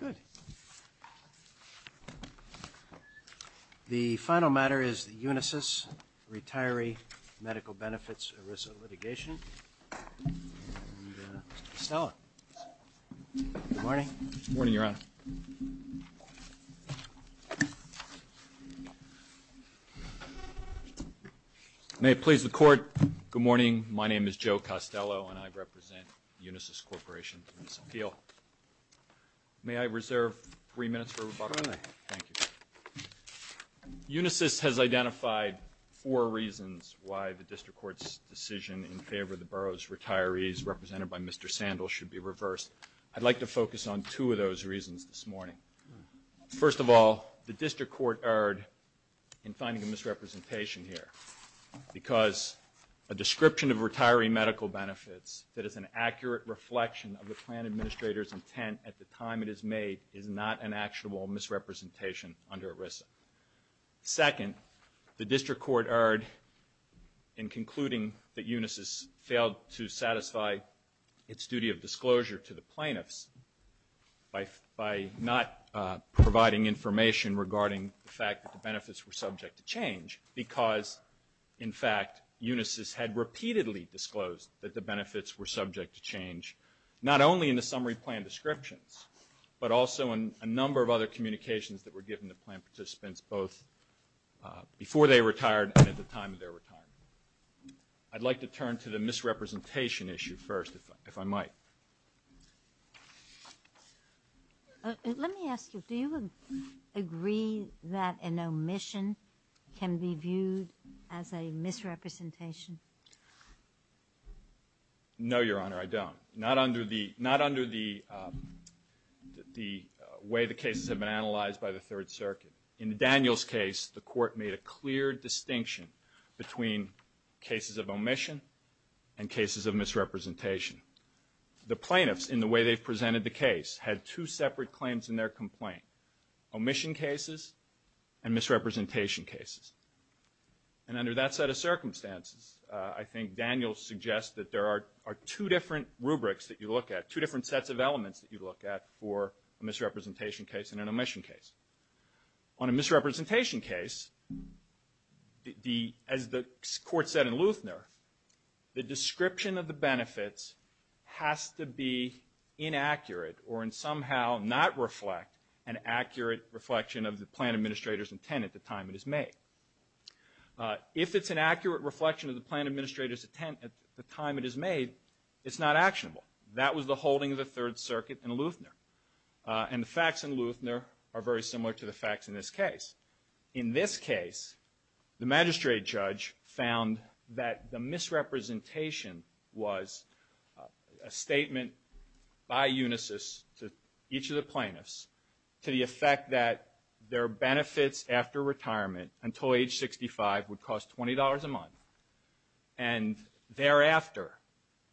Good. The final matter is the Unisys Retiree Medical Benefits ERISA Litigation, and Mr. Stella. Good morning. Good morning, Your Honor. May it please the Court, good morning. My name is Joe Costello, and I represent Unisys Corporation in this appeal. May I reserve three minutes for rebuttal? Go ahead. Thank you. Unisys has identified four reasons why the District Court's decision in favor of the borough's retirees, represented by Mr. Sandel, should be reversed. I'd like to focus on two of those reasons this morning. First of all, the District Court erred in finding a misrepresentation here, because a description of retiree medical benefits that is an accurate reflection of the plan administrator's intent at the time it is made is not an actual misrepresentation under ERISA. Second, the District Court erred in concluding that Unisys failed to satisfy its duty of plaintiffs by not providing information regarding the fact that the benefits were subject to change, because, in fact, Unisys had repeatedly disclosed that the benefits were subject to change, not only in the summary plan descriptions, but also in a number of other communications that were given to plan participants, both before they retired and at the time of their retirement. I'd like to turn to the misrepresentation issue first, if I might. Let me ask you, do you agree that an omission can be viewed as a misrepresentation? No, Your Honor, I don't. Not under the way the cases have been analyzed by the Third Circuit. In Daniel's case, the Court made a clear distinction between cases of omission and cases of misrepresentation. The plaintiffs, in the way they've presented the case, had two separate claims in their complaint, omission cases and misrepresentation cases. And under that set of circumstances, I think Daniel suggests that there are two different rubrics that you look at, two different sets of elements that you look at for a misrepresentation case and an omission case. On a misrepresentation case, as the Court said in Luethner, the description of the benefits has to be inaccurate or somehow not reflect an accurate reflection of the plan administrator's intent at the time it is made. If it's an accurate reflection of the plan administrator's intent at the time it is made, it's not actionable. That was the holding of the Third Circuit in Luethner. And the facts in Luethner are very similar to the facts in this case. In this case, the magistrate judge found that the misrepresentation was a statement by Unisys to each of the plaintiffs to the effect that their benefits after retirement until age 65 would cost $20 a month. And thereafter,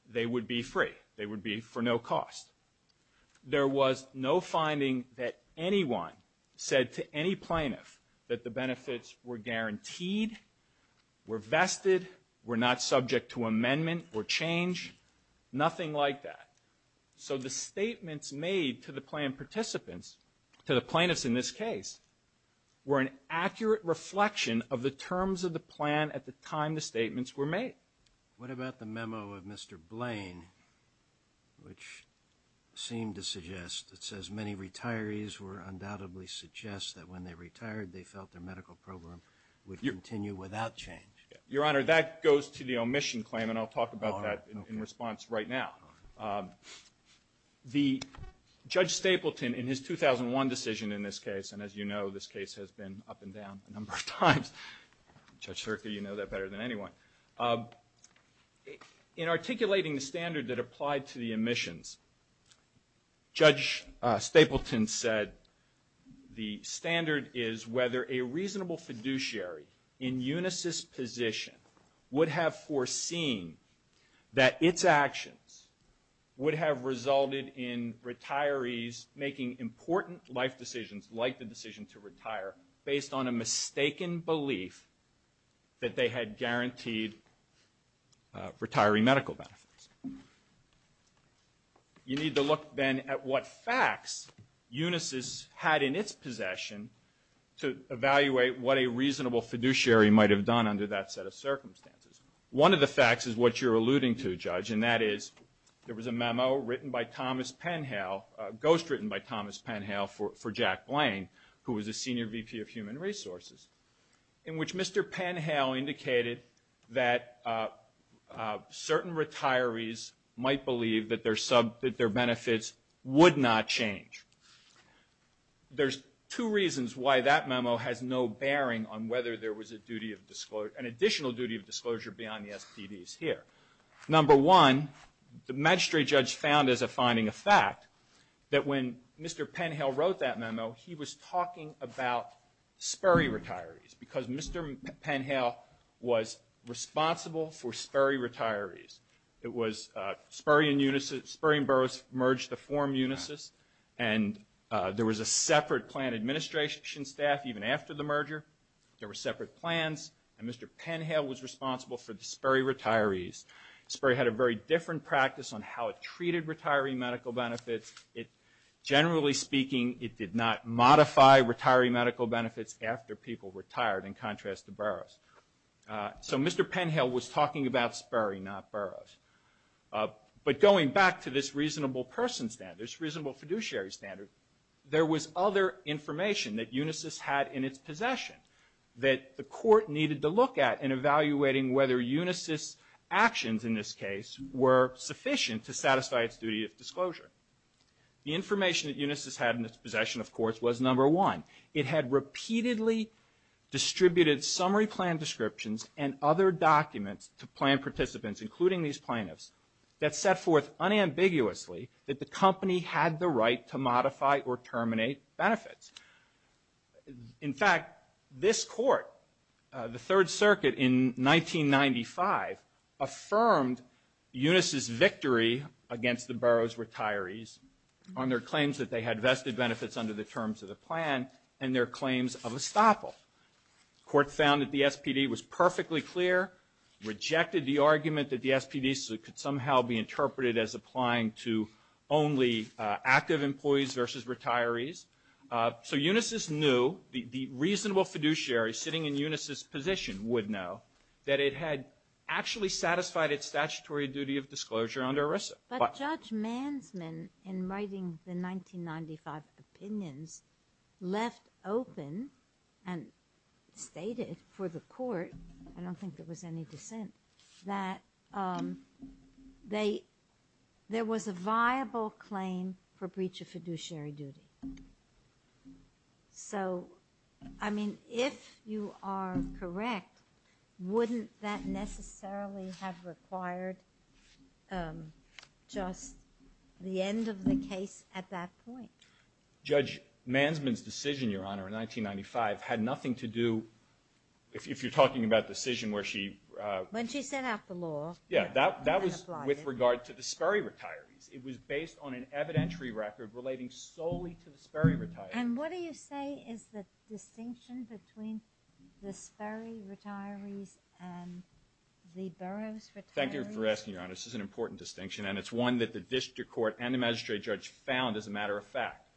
they would be free. They would be for no cost. There was no finding that anyone said to any plaintiff that the benefits were guaranteed, were vested, were not subject to amendment or change, nothing like that. So the statements made to the plan participants, to the plaintiffs in this case, were an accurate reflection of the terms of the plan at the time the statements were made. What about the memo of Mr. Blaine, which seemed to suggest, it says, many retirees were undoubtedly suggest that when they retired, they felt their medical program would continue without change? Your Honor, that goes to the omission claim, and I'll talk about that in response right now. The Judge Stapleton, in his 2001 decision in this case, and as you know, this case has been up and down a number of times. Judge Sirka, you know that better than anyone. In articulating the standard that applied to the omissions, Judge Stapleton said the standard is whether a reasonable fiduciary in unisys position would have foreseen that its actions would have resulted in retirees making important life decisions, like the decision to retire, based on a mistaken belief that they had guaranteed retiree medical benefits. You need to look, then, at what facts unisys had in its possession to evaluate what a reasonable fiduciary might have done under that set of circumstances. One of the facts is what you're alluding to, Judge, and that is there was a memo written by Thomas Penhale, ghostwritten by Thomas Penhale for Jack Blaine, who was a Senior VP of Human Resources, in which Mr. Penhale indicated that certain retirees might believe that their benefits would not change. There's two reasons why that memo has no bearing on whether there was an additional duty of disclosure beyond the SPD's here. Number one, the magistrate judge found, as a finding of fact, that when Mr. Penhale wrote that memo, he was talking about Sperry retirees, because Mr. Penhale was responsible for Sperry retirees. It was Sperry and Burroughs merged to form unisys, and there was a separate plan administration staff even after the merger. There were separate plans, and Mr. Penhale was responsible for the Sperry retirees. Sperry had a very different practice on how it treated retiree medical benefits. Generally speaking, it did not modify retiree medical benefits after people retired, in contrast to Burroughs. So Mr. Penhale was talking about Sperry, not Burroughs. But going back to this reasonable person standard, this reasonable fiduciary standard, there was other information that unisys had in its possession that the court needed to look at in evaluating whether unisys' actions in this case were sufficient to satisfy its duty of disclosure. The information that unisys had in its possession, of course, was number one. It had repeatedly distributed summary plan descriptions and other documents to plan participants, including these plaintiffs, that set forth unambiguously that the company had the right to modify or terminate benefits. In fact, this court, the Third Circuit in 1995, affirmed unisys' victory against the Burroughs retirees on their claims that they had vested benefits under the terms of the plan and their claims of estoppel. The court found that the SPD was perfectly clear, rejected the argument that the SPD could somehow be interpreted as applying to only active employees versus retirees. So unisys knew, the reasonable fiduciary sitting in unisys' position would know, that it had actually satisfied its statutory duty of disclosure under ERISA. But Judge Mansman, in writing the 1995 opinions, left open and stated for the court, I don't think there was any dissent, that there was a viable claim for breach of fiduciary duty. So, I mean, if you are correct, wouldn't that necessarily have required just the end of the case at that point? Judge Mansman's decision, Your Honor, in 1995, had nothing to do, if you're talking about decision where she... When she sent out the law... Yeah, that was with regard to the Sperry retirees. It was based on an evidentiary record relating solely to the Sperry retirees. And what do you say is the distinction between the Sperry retirees and the Burroughs retirees? Thank you for asking, Your Honor. This is an important distinction, and it's one that the district court and the magistrate judge found as a matter of fact.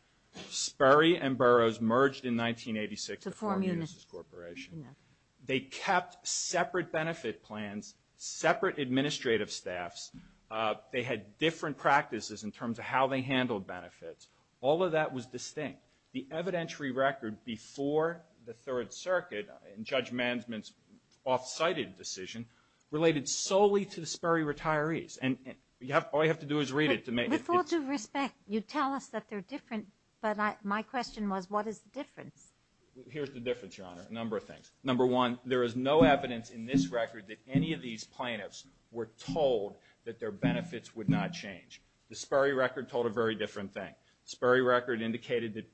Sperry and Burroughs merged in 1986 to form Unisys Corporation. They kept separate benefit plans, separate administrative staffs. They had different practices in terms of how they handled benefits. All of that was distinct. The evidentiary record before the Third Circuit in Judge Mansman's off-sited decision related solely to the Sperry retirees. And all you have to do is read it to make it... With all due respect, you tell us that they're different, but my question was, what is the difference? Here's the difference, Your Honor, a number of things. Number one, there is no evidence in this record that any of these plaintiffs were told that their benefits would not change. The Sperry record told a very different thing. The Sperry record indicated that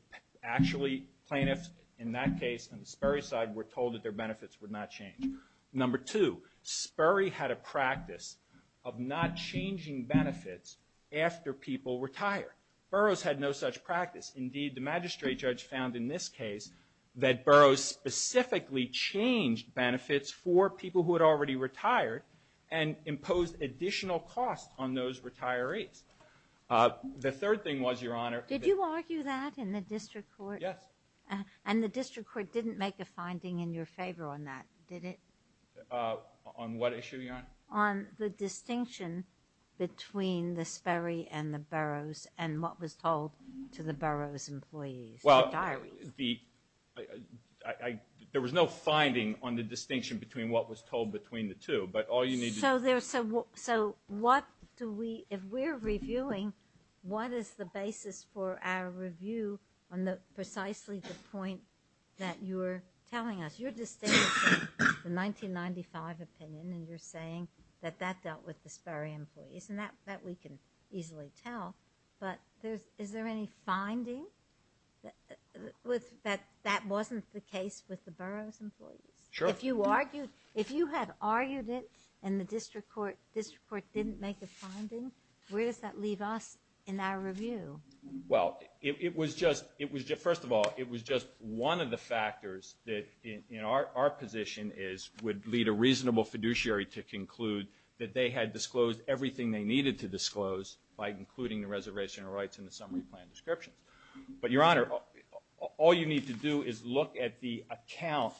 actually plaintiffs in that case on the Sperry side were told that their benefits would not change. Number two, Sperry had a practice of not changing benefits after people retire. Burroughs had no such practice. Indeed, the magistrate judge found in this case that Burroughs specifically changed benefits for people who had already retired and imposed additional costs on those retirees. The third thing was, Your Honor... Did you argue that in the district court? Yes. And the district court didn't make a finding in your favor on that, did it? On what issue, Your Honor? On the distinction between the Sperry and the Burroughs and what was told to the Burroughs employees, the diaries. Well, there was no finding on the distinction between what was told between the two, but all you need to... So what do we, if we're reviewing, what is the basis for our review on precisely the point that you're telling us? Because you're distinguishing the 1995 opinion and you're saying that that dealt with the Sperry employees and that we can easily tell, but is there any finding that that wasn't the case with the Burroughs employees? Sure. If you had argued it and the district court didn't make a finding, where does that leave us in our review? Well, it was just, first of all, it was just one of the factors that in our position is, would lead a reasonable fiduciary to conclude that they had disclosed everything they needed to disclose by including the reservation of rights in the summary plan descriptions. But, Your Honor, all you need to do is look at the account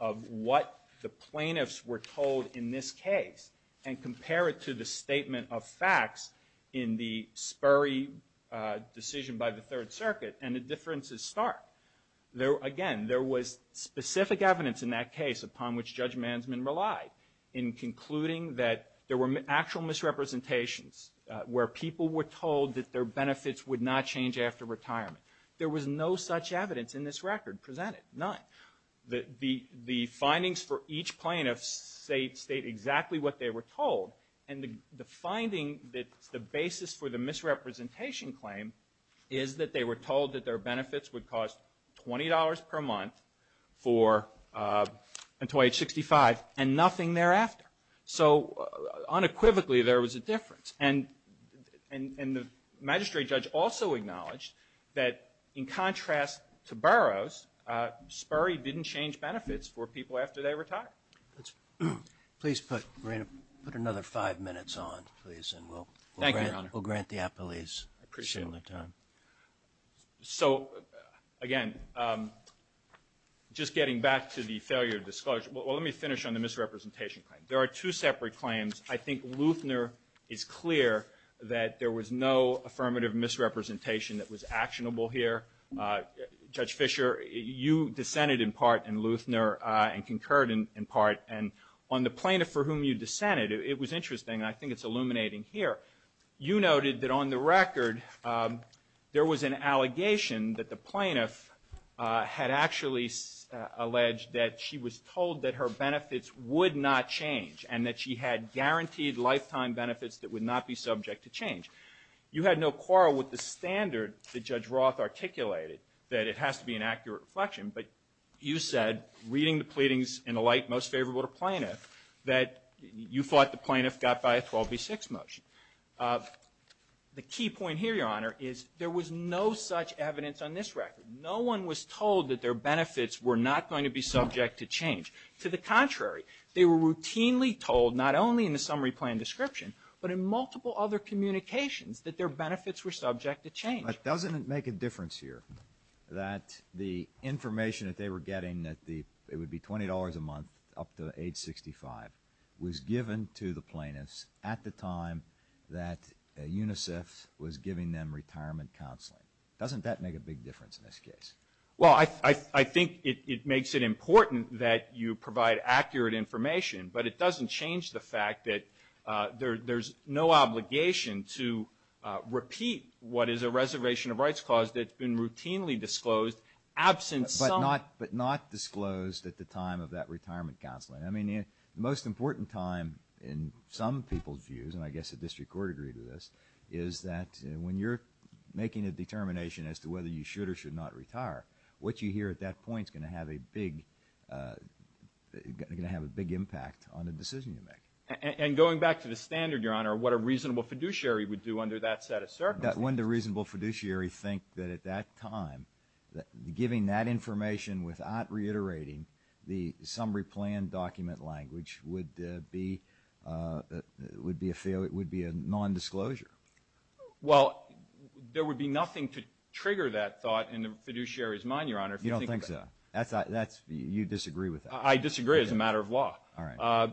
of what the plaintiffs were told in this case and compare it to the statement of facts in the Sperry decision by the Third Circuit, and the difference is stark. Again, there was specific evidence in that case upon which Judge Mansman relied in concluding that there were actual misrepresentations where people were told that their benefits would not change after retirement. There was no such evidence in this record presented, none. The findings for each plaintiff state exactly what they were told, and the finding that the basis for the misrepresentation claim is that they were told that their benefits would cost $20 per month for until age 65, and nothing thereafter. So, unequivocally, there was a difference. And the magistrate judge also acknowledged that, in contrast to Burroughs, Sperry didn't change benefits for people after they retired. Please put another five minutes on, please, and we'll grant the appellees some more time. So, again, just getting back to the failure of disclosure, well, let me finish on the misrepresentation claim. There are two separate claims. I think Luthner is clear that there was no affirmative misrepresentation that was actionable here. Judge Fisher, you dissented in part in Luthner and concurred in part, and on the plaintiff for whom you dissented, it was interesting, and I think it's illuminating here. You noted that on the record there was an allegation that the plaintiff had actually alleged that she was told that her benefits would not change and that she had guaranteed lifetime benefits that would not be subject to change. You had no quarrel with the standard that Judge Roth articulated, that it has to be an accurate reflection, but you said, reading the pleadings in the light most favorable to plaintiff, that you thought the plaintiff got by a 12B6 motion. The key point here, Your Honor, is there was no such evidence on this record. No one was told that their benefits were not going to be subject to change. To the contrary, they were routinely told, not only in the summary plan description, but in multiple other communications, that their benefits were subject to change. But doesn't it make a difference here that the information that they were getting that it would be $20 a month up to age 65 was given to the plaintiffs at the time that UNICEF was giving them retirement counseling? Doesn't that make a big difference in this case? Well, I think it makes it important that you provide accurate information, but it doesn't change the fact that there's no obligation to repeat what is a reservation of rights clause that's been routinely disclosed absent some – But not disclosed at the time of that retirement counseling. I mean, the most important time in some people's views, and I guess the district court agreed to this, is that when you're making a determination as to whether you should or should not retire, what you hear at that point is going to have a big impact on the decision you make. And going back to the standard, Your Honor, what a reasonable fiduciary would do under that set of circumstances? Wouldn't a reasonable fiduciary think that at that time, giving that information without reiterating the summary plan document language would be a non-disclosure? Well, there would be nothing to trigger that thought in the fiduciary's mind, Your Honor. You don't think so? You disagree with that? I disagree as a matter of law. All right.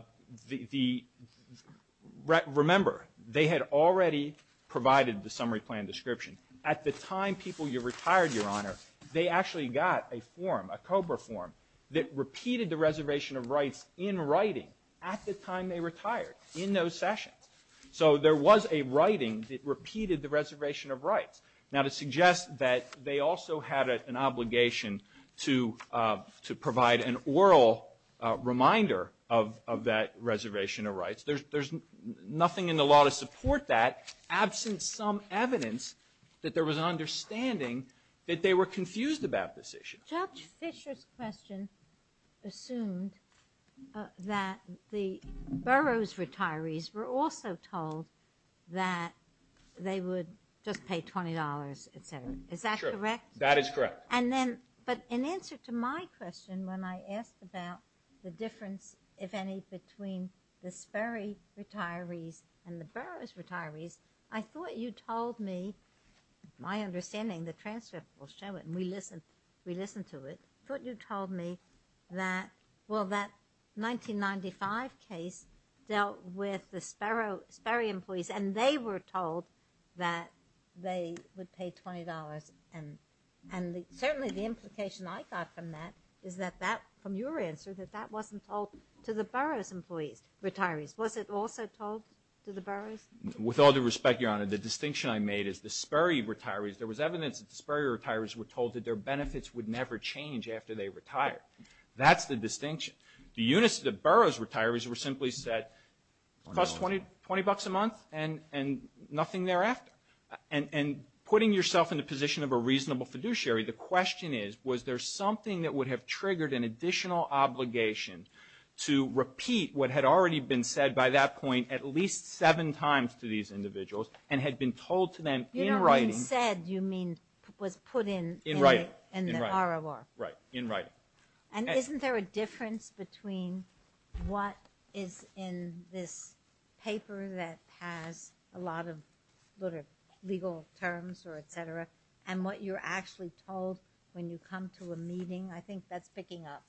Remember, they had already provided the summary plan description. At the time people retired, Your Honor, they actually got a form, a COBRA form, that repeated the reservation of rights in writing at the time they retired, in those sessions. So there was a writing that repeated the reservation of rights. Now, to suggest that they also had an obligation to provide an oral reminder of that reservation of rights, there's nothing in the law to support that, absent some evidence that there was an understanding that they were confused about this issue. Judge Fisher's question assumed that the borough's retirees were also told that they would just pay $20, et cetera. Is that correct? That is correct. But in answer to my question, when I asked about the difference, if any, between the Sperry retirees and the borough's retirees, I thought you told me, my understanding, the transcript will show it, and we listened to it, I thought you told me that, well, that 1995 case dealt with the Sperry employees, and they were told that they would pay $20. And certainly the implication I got from that is that, from your answer, that that wasn't told to the borough's retirees. Was it also told to the borough's? With all due respect, Your Honor, the distinction I made is the Sperry retirees, there was evidence that the Sperry retirees were told that their benefits would never change after they retired. That's the distinction. The borough's retirees were simply said, cost $20 a month and nothing thereafter. And putting yourself in the position of a reasonable fiduciary, the question is, was there something that would have triggered an additional obligation to repeat what had already been said by that point at least seven times to these individuals and had been told to them in writing. You don't mean said, you mean was put in the ROR. Right, in writing. And isn't there a difference between what is in this paper that has a lot of legal terms or et cetera, and what you're actually told when you come to a meeting? I think that's picking up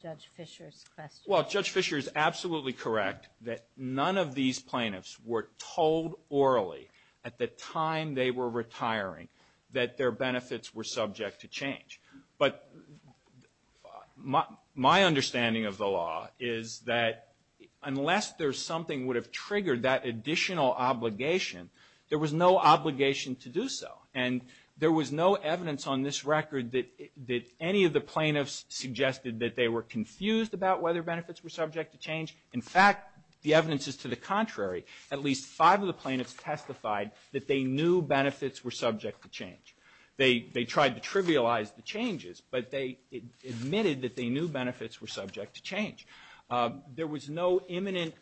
Judge Fisher's question. Well, Judge Fisher is absolutely correct that none of these plaintiffs were told orally at the time they were retiring that their benefits were subject to change. But my understanding of the law is that unless there's something would have triggered that additional obligation, there was no obligation to do so. And there was no evidence on this record that any of the plaintiffs suggested that they were confused about whether benefits were subject to change. In fact, the evidence is to the contrary. At least five of the plaintiffs testified that they knew benefits were subject to change. They tried to trivialize the changes, but they admitted that they knew benefits were subject to change. There was no imminent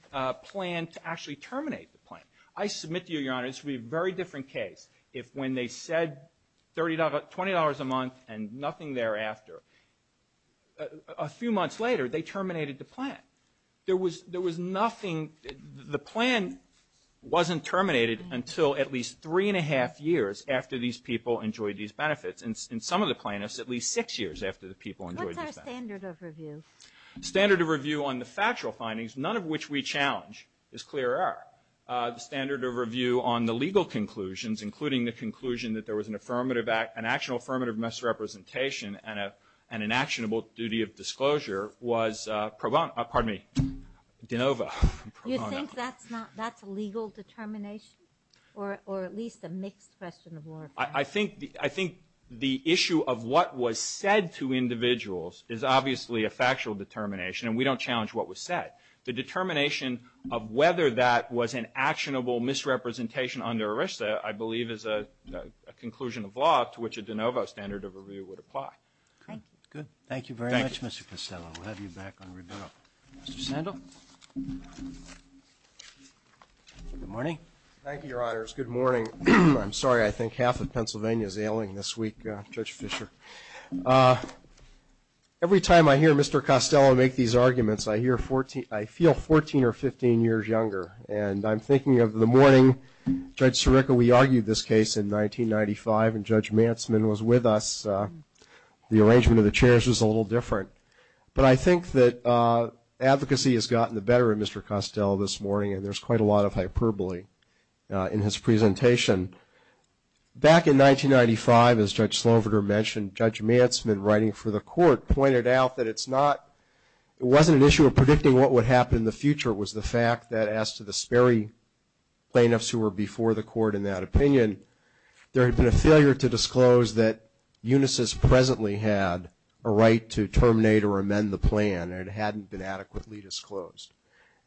plan to actually terminate the plan. I submit to you, Your Honor, this would be a very different case if when they said $20 a month and nothing thereafter. A few months later, they terminated the plan. There was nothing. The plan wasn't terminated until at least three and a half years after these people enjoyed these benefits. In some of the plaintiffs, at least six years after the people enjoyed these benefits. What's our standard of review? Standard of review on the factual findings, none of which we challenge, is clear error. The standard of review on the legal conclusions, including the conclusion that there was an actionable affirmative misrepresentation and an actionable duty of disclosure was pro bono. Pardon me. De novo, pro bono. You think that's a legal determination? Or at least a mixed question of law? I think the issue of what was said to individuals is obviously a factual determination, and we don't challenge what was said. The determination of whether that was an actionable misrepresentation under ERISA, I believe is a conclusion of law to which a de novo standard of review would apply. Okay, good. Thank you very much, Mr. Costello. We'll have you back on rebuttal. Mr. Sandel? Good morning. Thank you, Your Honors. Good morning. I'm sorry, I think half of Pennsylvania is ailing this week, Judge Fischer. Every time I hear Mr. Costello make these arguments, I feel 14 or 15 years younger, and I'm thinking of the morning, Judge Sirica, we argued this case in 1995, and Judge Mantsman was with us. The arrangement of the chairs was a little different. But I think that advocacy has gotten the better of Mr. Costello this morning, and there's quite a lot of hyperbole in his presentation. Back in 1995, as Judge Sloverter mentioned, Judge Mantsman writing for the court pointed out that it's not, it wasn't an issue of predicting what would happen in the future. It was the fact that as to the Sperry plaintiffs who were before the court in that opinion, there had been a failure to disclose that Unisys presently had a right to terminate or amend the plan, and it hadn't been adequately disclosed.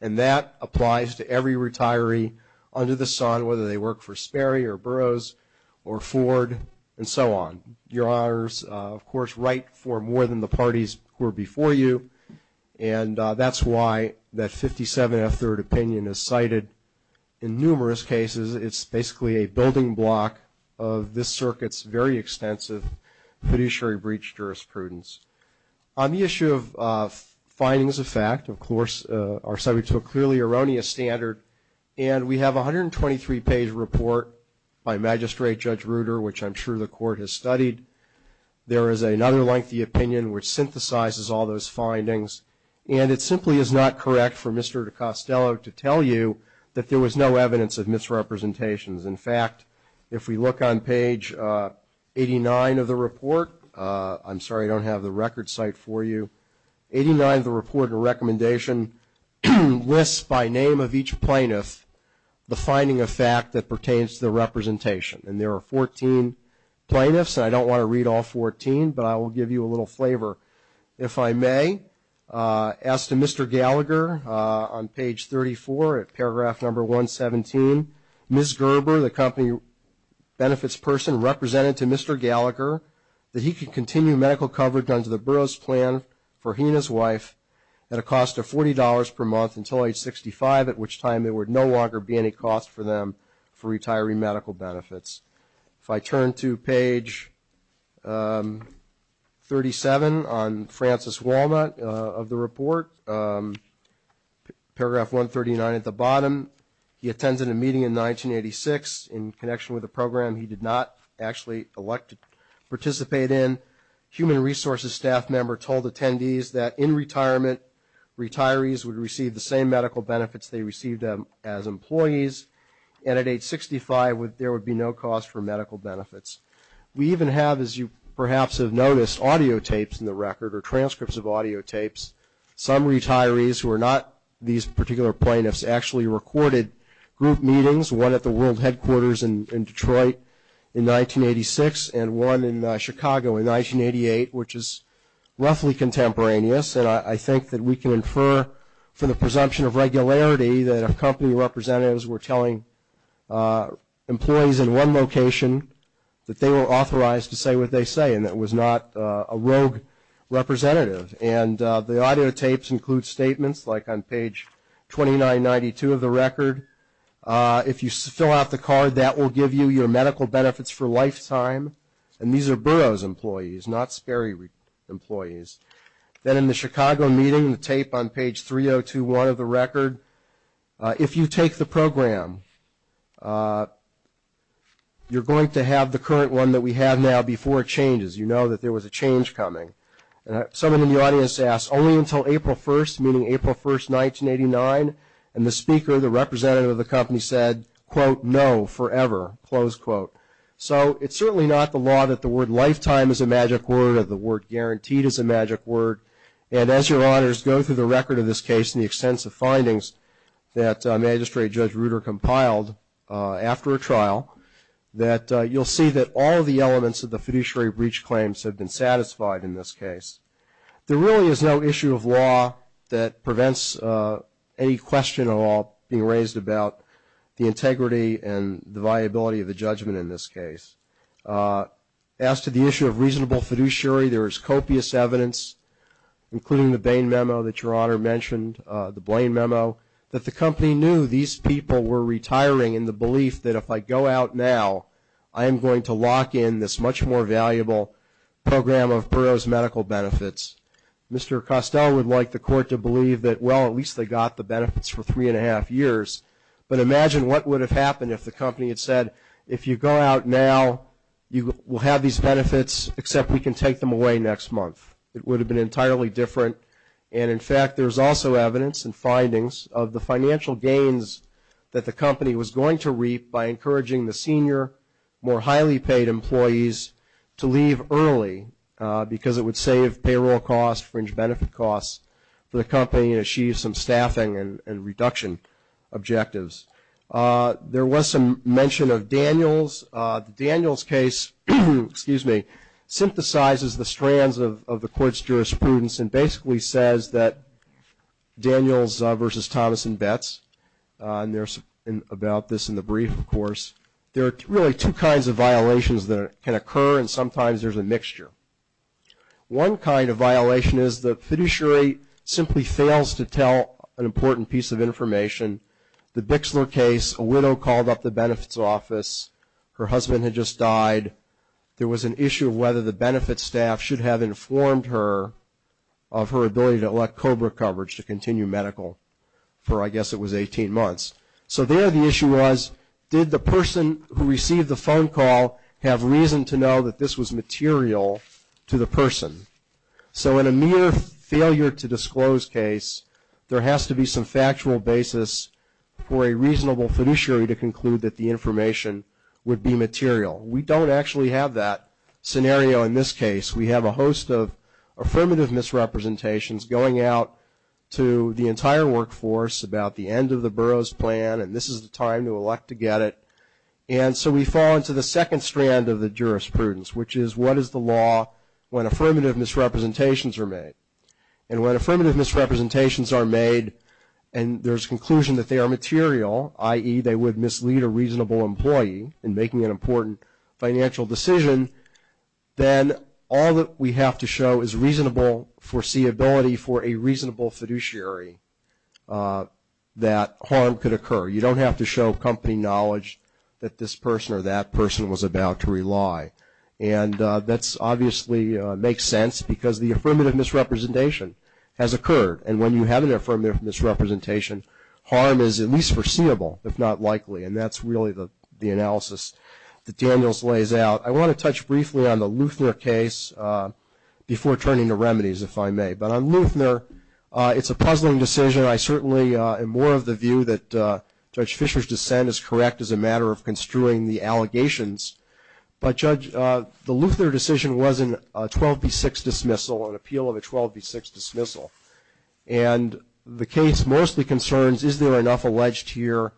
And that applies to every retiree under the sun, whether they work for Sperry or Burroughs or Ford and so on. Your Honors, of course, write for more than the parties who are before you, and that's why that 57F third opinion is cited in numerous cases. It's basically a building block of this circuit's very extensive fiduciary breach jurisprudence. On the issue of findings of fact, of course, our subject to a clearly erroneous standard, and we have a 123-page report by Magistrate Judge Ruder, which I'm sure the court has studied. There is another lengthy opinion which synthesizes all those findings, and it simply is not correct for Mr. Costello to tell you that there was no evidence of misrepresentations. In fact, if we look on page 89 of the report, I'm sorry I don't have the record site for you, 89 of the report and recommendation lists by name of each plaintiff the finding of fact that pertains to the representation. And there are 14 plaintiffs, and I don't want to read all 14, but I will give you a little flavor if I may. As to Mr. Gallagher, on page 34 at paragraph number 117, Ms. Gerber, the company benefits person, represented to Mr. Gallagher that he could continue medical coverage under the Burroughs plan for he and his wife at a cost of $40 per month until age 65, at which time there would no longer be any cost for them for retiring medical benefits. If I turn to page 37 on Francis Walnut of the report, paragraph 139 at the bottom, he attended a meeting in 1986 in connection with a program he did not actually participate in. Human resources staff member told attendees that in retirement, retirees would receive the same medical benefits they received as employees, and at age 65 there would be no cost for medical benefits. We even have, as you perhaps have noticed, audiotapes in the record or transcripts of audiotapes. Some retirees who are not these particular plaintiffs actually recorded group meetings, one at the world headquarters in Detroit in 1986 and one in Chicago in 1988, which is roughly contemporaneous, and I think that we can infer from the presumption of regularity that if company representatives were telling employees in one location that they were authorized to say what they say and that it was not a rogue representative. And the audiotapes include statements like on page 2992 of the record, if you fill out the card that will give you your medical benefits for a lifetime, and these are Burroughs employees, not Sperry employees. Then in the Chicago meeting, the tape on page 3021 of the record, if you take the program, you're going to have the current one that we have now before it changes. You know that there was a change coming. Someone in the audience asked, only until April 1st, meaning April 1st, 1989, and the speaker, the representative of the company said, quote, no, forever, close quote. So it's certainly not the law that the word lifetime is a magic word or the word guaranteed is a magic word. And as your honors go through the record of this case and the extensive findings that Magistrate Judge Ruder compiled after a trial, that you'll see that all of the elements of the fiduciary breach claims have been satisfied in this case. There really is no issue of law that prevents any question at all being raised about the integrity and the viability of the judgment in this case. As to the issue of reasonable fiduciary, there is copious evidence, including the Bain memo that your honor mentioned, the Blaine memo, that the company knew these people were retiring in the belief that if I go out now, I am going to lock in this much more valuable program of Burroughs medical benefits. Mr. Costell would like the court to believe that, well, at least they got the benefits for three and a half years. But imagine what would have happened if the company had said, if you go out now, you will have these benefits except we can take them away next month. It would have been entirely different. And, in fact, there's also evidence and findings of the financial gains that the company was going to reap by encouraging the senior, more highly paid employees to leave early because it would save payroll costs, fringe benefit costs for the company and achieve some staffing and reduction objectives. There was some mention of Daniels. The Daniels case, excuse me, synthesizes the strands of the court's jurisprudence and basically says that Daniels versus Thomas and Betts, and there's about this in the brief, of course, there are really two kinds of violations that can occur and sometimes there's a mixture. One kind of violation is the fiduciary simply fails to tell an important piece of information. The Bixler case, a widow called up the benefits office. Her husband had just died. There was an issue of whether the benefits staff should have informed her of her ability to elect COBRA coverage to continue medical for, I guess, it was 18 months. So there the issue was, did the person who received the phone call have reason to know that this was material to the person? So in a mere failure to disclose case, there has to be some factual basis for a reasonable fiduciary to conclude that the information would be material. We don't actually have that scenario in this case. We have a host of affirmative misrepresentations going out to the entire workforce about the end of the borough's plan and this is the time to elect to get it, and so we fall into the second strand of the jurisprudence, which is what is the law when affirmative misrepresentations are made? And when affirmative misrepresentations are made and there's conclusion that they are material, i.e., they would mislead a reasonable employee in making an important financial decision, then all that we have to show is reasonable foreseeability for a reasonable fiduciary that harm could occur. You don't have to show company knowledge that this person or that person was about to rely, and that obviously makes sense because the affirmative misrepresentation has occurred, and when you have an affirmative misrepresentation, harm is at least foreseeable, if not likely, and that's really the analysis that Daniels lays out. I want to touch briefly on the Lueffner case before turning to remedies, if I may. But on Lueffner, it's a puzzling decision. I certainly am more of the view that Judge Fisher's dissent is correct as a matter of construing the allegations. But, Judge, the Lueffner decision was a 12B6 dismissal, an appeal of a 12B6 dismissal, and the case mostly concerns is there enough alleged here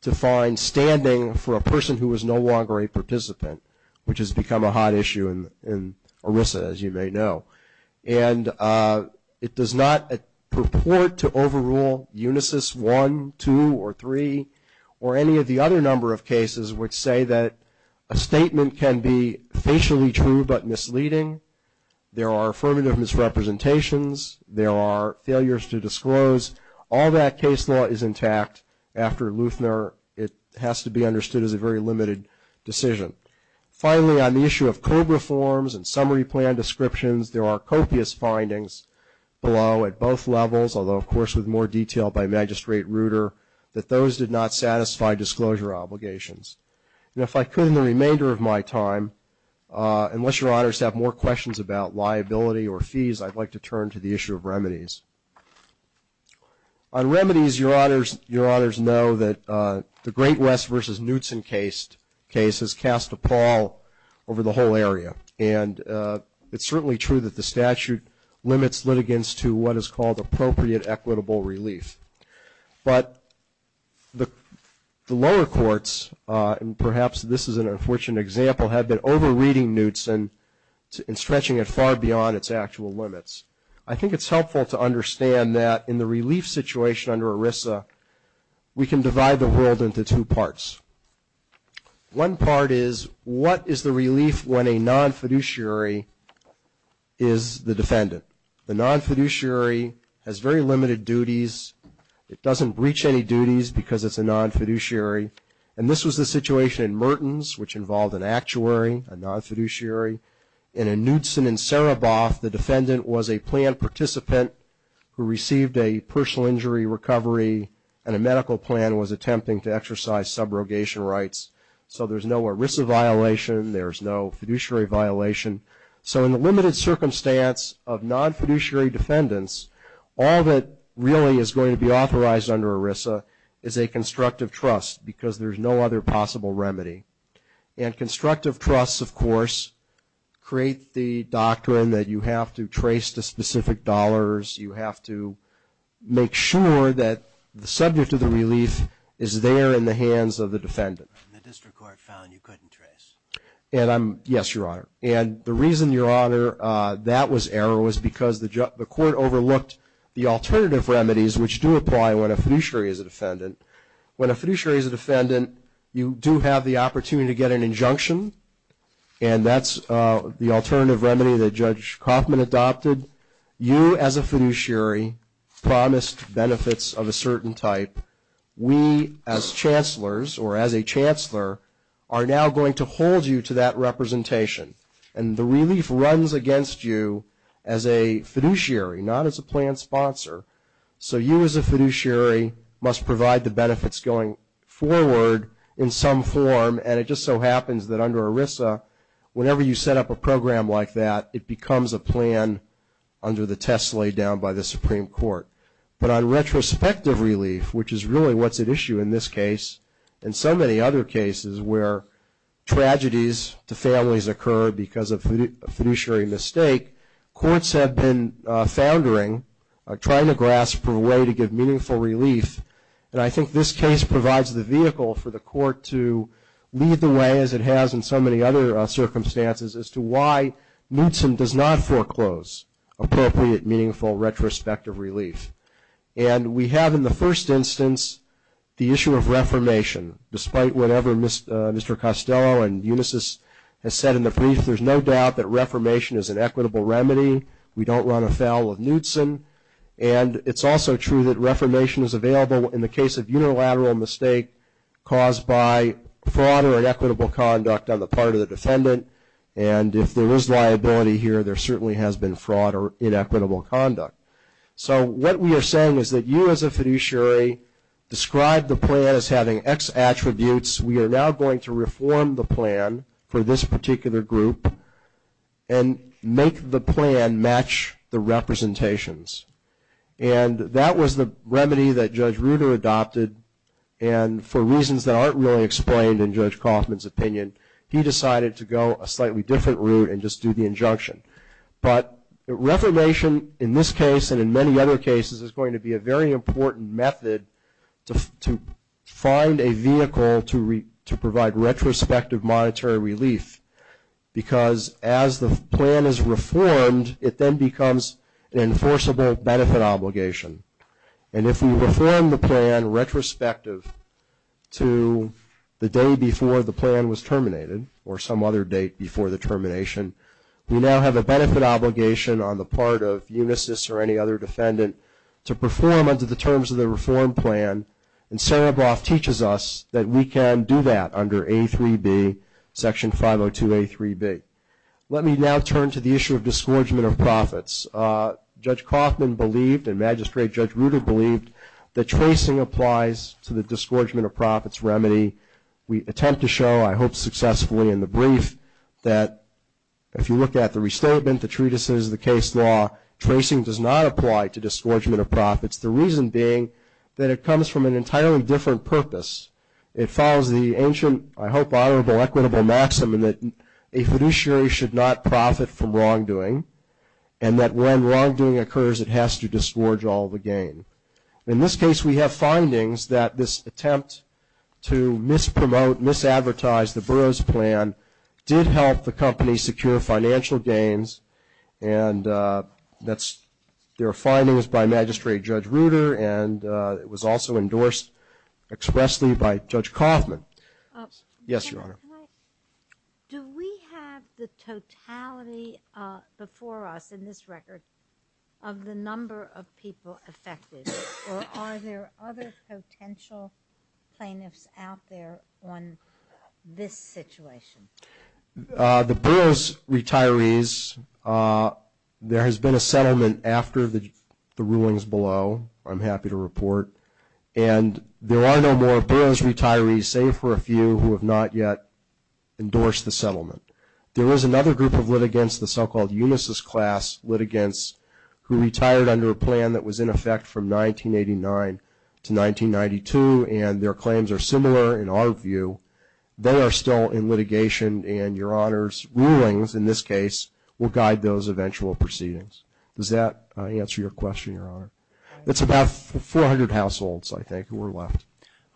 to find standing for a person who is no longer a participant, which has become a hot issue in ERISA, as you may know. And it does not purport to overrule Unisys 1, 2, or 3, or any of the other number of cases which say that a statement can be facially true but misleading. There are affirmative misrepresentations. There are failures to disclose. All that case law is intact after Lueffner. It has to be understood as a very limited decision. Finally, on the issue of COBRA forms and summary plan descriptions, there are copious findings below at both levels, although, of course, with more detail by Magistrate Ruder, that those did not satisfy disclosure obligations. And if I could, in the remainder of my time, unless your honors have more questions about liability or fees, I'd like to turn to the issue of remedies. On remedies, your honors know that the Great West v. Knutson case has cast a pall over the whole area. And it's certainly true that the statute limits litigants to what is called appropriate equitable relief. But the lower courts, and perhaps this is an unfortunate example, have been over-reading Knutson and stretching it far beyond its actual limits. I think it's helpful to understand that in the relief situation under ERISA, we can divide the world into two parts. One part is, what is the relief when a non-fiduciary is the defendant? The non-fiduciary has very limited duties. It doesn't reach any duties because it's a non-fiduciary. And this was the situation in Mertens, which involved an actuary, a non-fiduciary. And in Knutson and Sereboff, the defendant was a planned participant who received a personal injury recovery, and a medical plan was attempting to exercise subrogation rights. So there's no ERISA violation. There's no fiduciary violation. So in the limited circumstance of non-fiduciary defendants, all that really is going to be authorized under ERISA is a constructive trust, because there's no other possible remedy. And constructive trusts, of course, create the doctrine that you have to trace the specific dollars. You have to make sure that the subject of the relief is there in the hands of the defendant. And the district court found you couldn't trace. Yes, Your Honor. And the reason, Your Honor, that was error, was because the court overlooked the alternative remedies, which do apply when a fiduciary is a defendant. When a fiduciary is a defendant, you do have the opportunity to get an injunction, and that's the alternative remedy that Judge Kaufman adopted. You, as a fiduciary, promised benefits of a certain type. We, as chancellors or as a chancellor, are now going to hold you to that representation. And the relief runs against you as a fiduciary, not as a planned sponsor. So you, as a fiduciary, must provide the benefits going forward in some form, and it just so happens that under ERISA, whenever you set up a program like that, it becomes a plan under the test laid down by the Supreme Court. But on retrospective relief, which is really what's at issue in this case and so many other cases where tragedies to families occur because of a fiduciary mistake, courts have been foundering, trying to grasp a way to give meaningful relief. And I think this case provides the vehicle for the court to lead the way, as it has in so many other circumstances, as to why Mootson does not foreclose appropriate, meaningful retrospective relief. And we have, in the first instance, the issue of reformation. Despite whatever Mr. Costello and Unisys has said in the brief, there's no doubt that reformation is an equitable remedy. We don't run afoul of Mootson. And it's also true that reformation is available in the case of unilateral mistake caused by fraud or inequitable conduct on the part of the defendant. And if there is liability here, there certainly has been fraud or inequitable conduct. So what we are saying is that you, as a fiduciary, describe the plan as having X attributes. We are now going to reform the plan for this particular group and make the plan match the representations. And that was the remedy that Judge Ruder adopted. And for reasons that aren't really explained in Judge Kaufman's opinion, he decided to go a slightly different route and just do the injunction. But reformation in this case and in many other cases is going to be a very important method to find a vehicle to provide retrospective monetary relief. Because as the plan is reformed, it then becomes an enforceable benefit obligation. And if we reform the plan retrospective to the day before the plan was terminated or some other date before the termination, we now have a benefit obligation on the part of Unisys or any other defendant to perform under the terms of the reform plan. And Serebroff teaches us that we can do that under A3B, Section 502A3B. Let me now turn to the issue of disgorgement of profits. Judge Kaufman believed, and Magistrate Judge Ruder believed, that tracing applies to the disgorgement of profits remedy. We attempt to show, I hope successfully in the brief, that if you look at the restatement, the treatises, the case law, tracing does not apply to disgorgement of profits. The reason being that it comes from an entirely different purpose. It follows the ancient, I hope honorable, equitable maxim that a fiduciary should not profit from wrongdoing and that when wrongdoing occurs it has to disgorge all the gain. In this case, we have findings that this attempt to mispromote, misadvertise, the Burroughs Plan did help the company secure financial gains. And their finding was by Magistrate Judge Ruder and it was also endorsed expressly by Judge Kaufman. Yes, Your Honor. Do we have the totality before us in this record of the number of people affected? Or are there other potential plaintiffs out there on this situation? The Burroughs retirees, there has been a settlement after the rulings below. I'm happy to report. And there are no more Burroughs retirees save for a few who have not yet endorsed the settlement. There was another group of litigants, the so-called Unisys class litigants, who retired under a plan that was in effect from 1989 to 1992 and their claims are similar in our view. They are still in litigation and Your Honor's rulings, in this case, will guide those eventual proceedings. Does that answer your question, Your Honor? It's about 400 households, I think, who are left.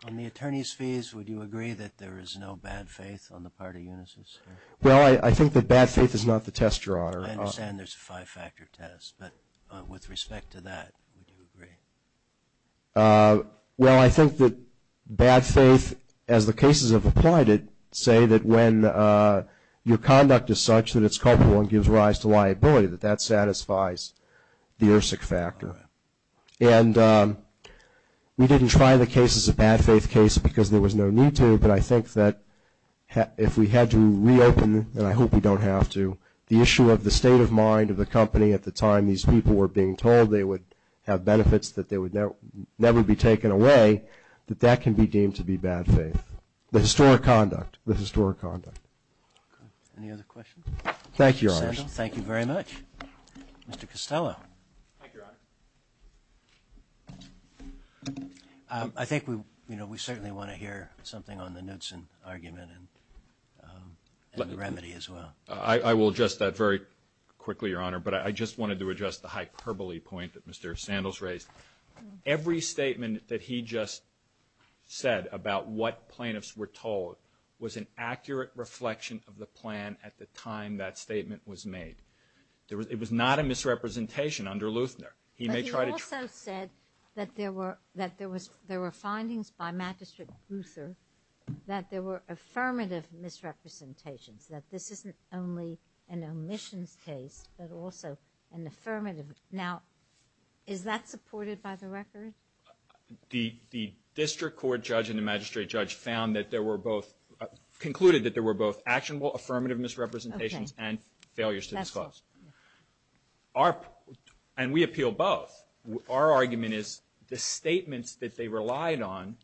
On the attorney's fees, would you agree that there is no bad faith on the part of Unisys? Well, I think the bad faith is not the test, Your Honor. I understand there's a five-factor test, but with respect to that, would you agree? Well, I think that bad faith, as the cases have applied it, say that when your conduct is such that it's culpable and gives rise to liability, that that satisfies the ERSIC factor. And we didn't try the case as a bad faith case because there was no need to, but I think that if we had to reopen, and I hope we don't have to, the issue of the state of mind of the company at the time these people were being told they would have benefits, that they would never be taken away, that that can be deemed to be bad faith, the historic conduct, the historic conduct. Any other questions? Thank you, Your Honor. Thank you very much. Mr. Costello. Thank you, Your Honor. I think we certainly want to hear something on the Knudsen argument and the remedy as well. I will address that very quickly, Your Honor, but I just wanted to address the hyperbole point that Mr. Sandals raised. Every statement that he just said about what plaintiffs were told was an accurate reflection of the plan at the time that statement was made. It was not a misrepresentation under Luthner. But he also said that there were findings by Magistrate Luther that there were affirmative misrepresentations, that this isn't only an omissions case but also an affirmative. Now, is that supported by the record? The district court judge and the magistrate judge found that there were both, concluded that there were both actionable affirmative misrepresentations and failures to disclose. And we appeal both. Our argument is the statements that they relied on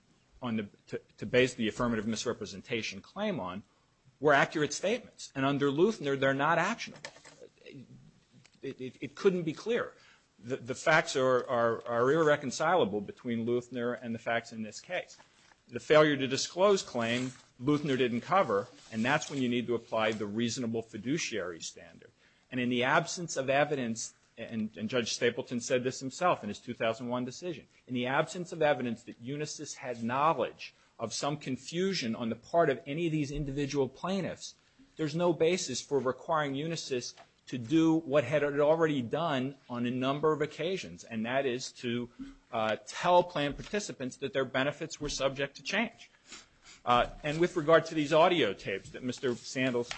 to base the affirmative misrepresentation claim on were accurate statements. And under Luthner, they're not actionable. It couldn't be clearer. The facts are irreconcilable between Luthner and the facts in this case. The failure to disclose claim Luthner didn't cover, and that's when you need to apply the reasonable fiduciary standard. And in the absence of evidence, and Judge Stapleton said this himself in his 2001 decision, in the absence of evidence that Unisys had knowledge of some confusion on the part of any of these individual plaintiffs, there's no basis for requiring Unisys to do what it had already done on a number of occasions, and that is to tell plan participants that their benefits were subject to change. And with regard to these audio tapes that Mr. Sandles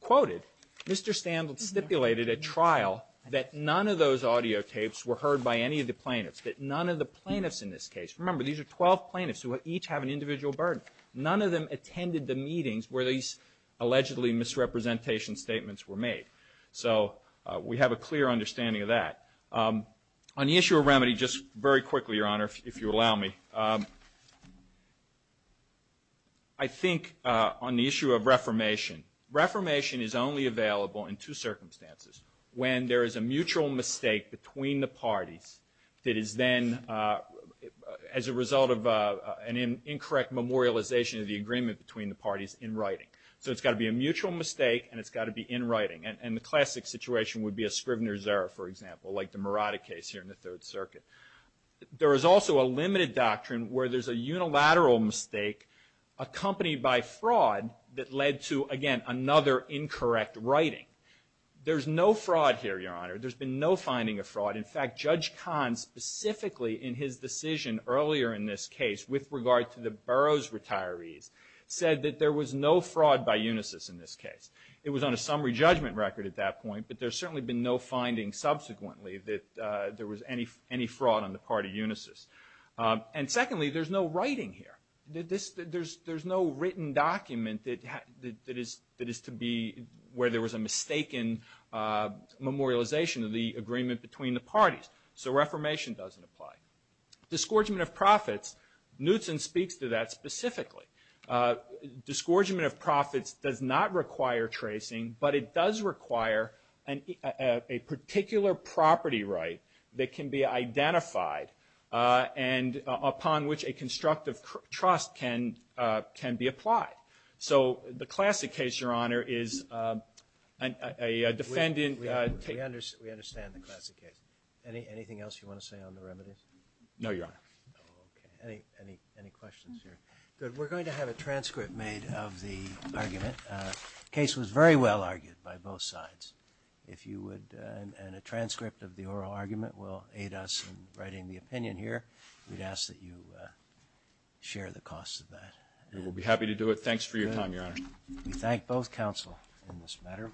quoted, Mr. Sandles stipulated at trial that none of those audio tapes were heard by any of the plaintiffs, that none of the plaintiffs in this case, remember these are 12 plaintiffs who each have an individual burden, none of them attended the meetings where these allegedly misrepresentation statements were made. So we have a clear understanding of that. On the issue of remedy, just very quickly, Your Honor, if you allow me, I think on the issue of reformation, reformation is only available in two circumstances, when there is a mutual mistake between the parties that is then as a result of an incorrect memorialization of the agreement between the parties in writing. So it's got to be a mutual mistake, and it's got to be in writing. And the classic situation would be a Scrivener's Error, for example, like the Murata case here in the Third Circuit. There is also a limited doctrine where there's a unilateral mistake accompanied by fraud that led to, again, another incorrect writing. There's no fraud here, Your Honor. There's been no finding of fraud. In fact, Judge Kahn specifically in his decision earlier in this case with regard to the Burroughs retirees said that there was no fraud by Unisys in this case. It was on a summary judgment record at that point, but there's certainly been no finding subsequently that there was any fraud on the part of Unisys. And secondly, there's no writing here. There's no written document that is to be where there was a mistaken memorialization of the agreement between the parties. So Reformation doesn't apply. Discouragement of profits, Knutson speaks to that specifically. Discouragement of profits does not require tracing, but it does require a particular property right that can be identified and upon which a constructive trust can be applied. So the classic case, Your Honor, is a defendant. We understand the classic case. Anything else you want to say on the remedies? No, Your Honor. Okay. Any questions here? Good. We're going to have a transcript made of the argument. The case was very well argued by both sides. And a transcript of the oral argument will aid us in writing the opinion here. We'd ask that you share the cost of that. We'll be happy to do it. Thanks for your time, Your Honor. Good. We thank both counsel in this matter.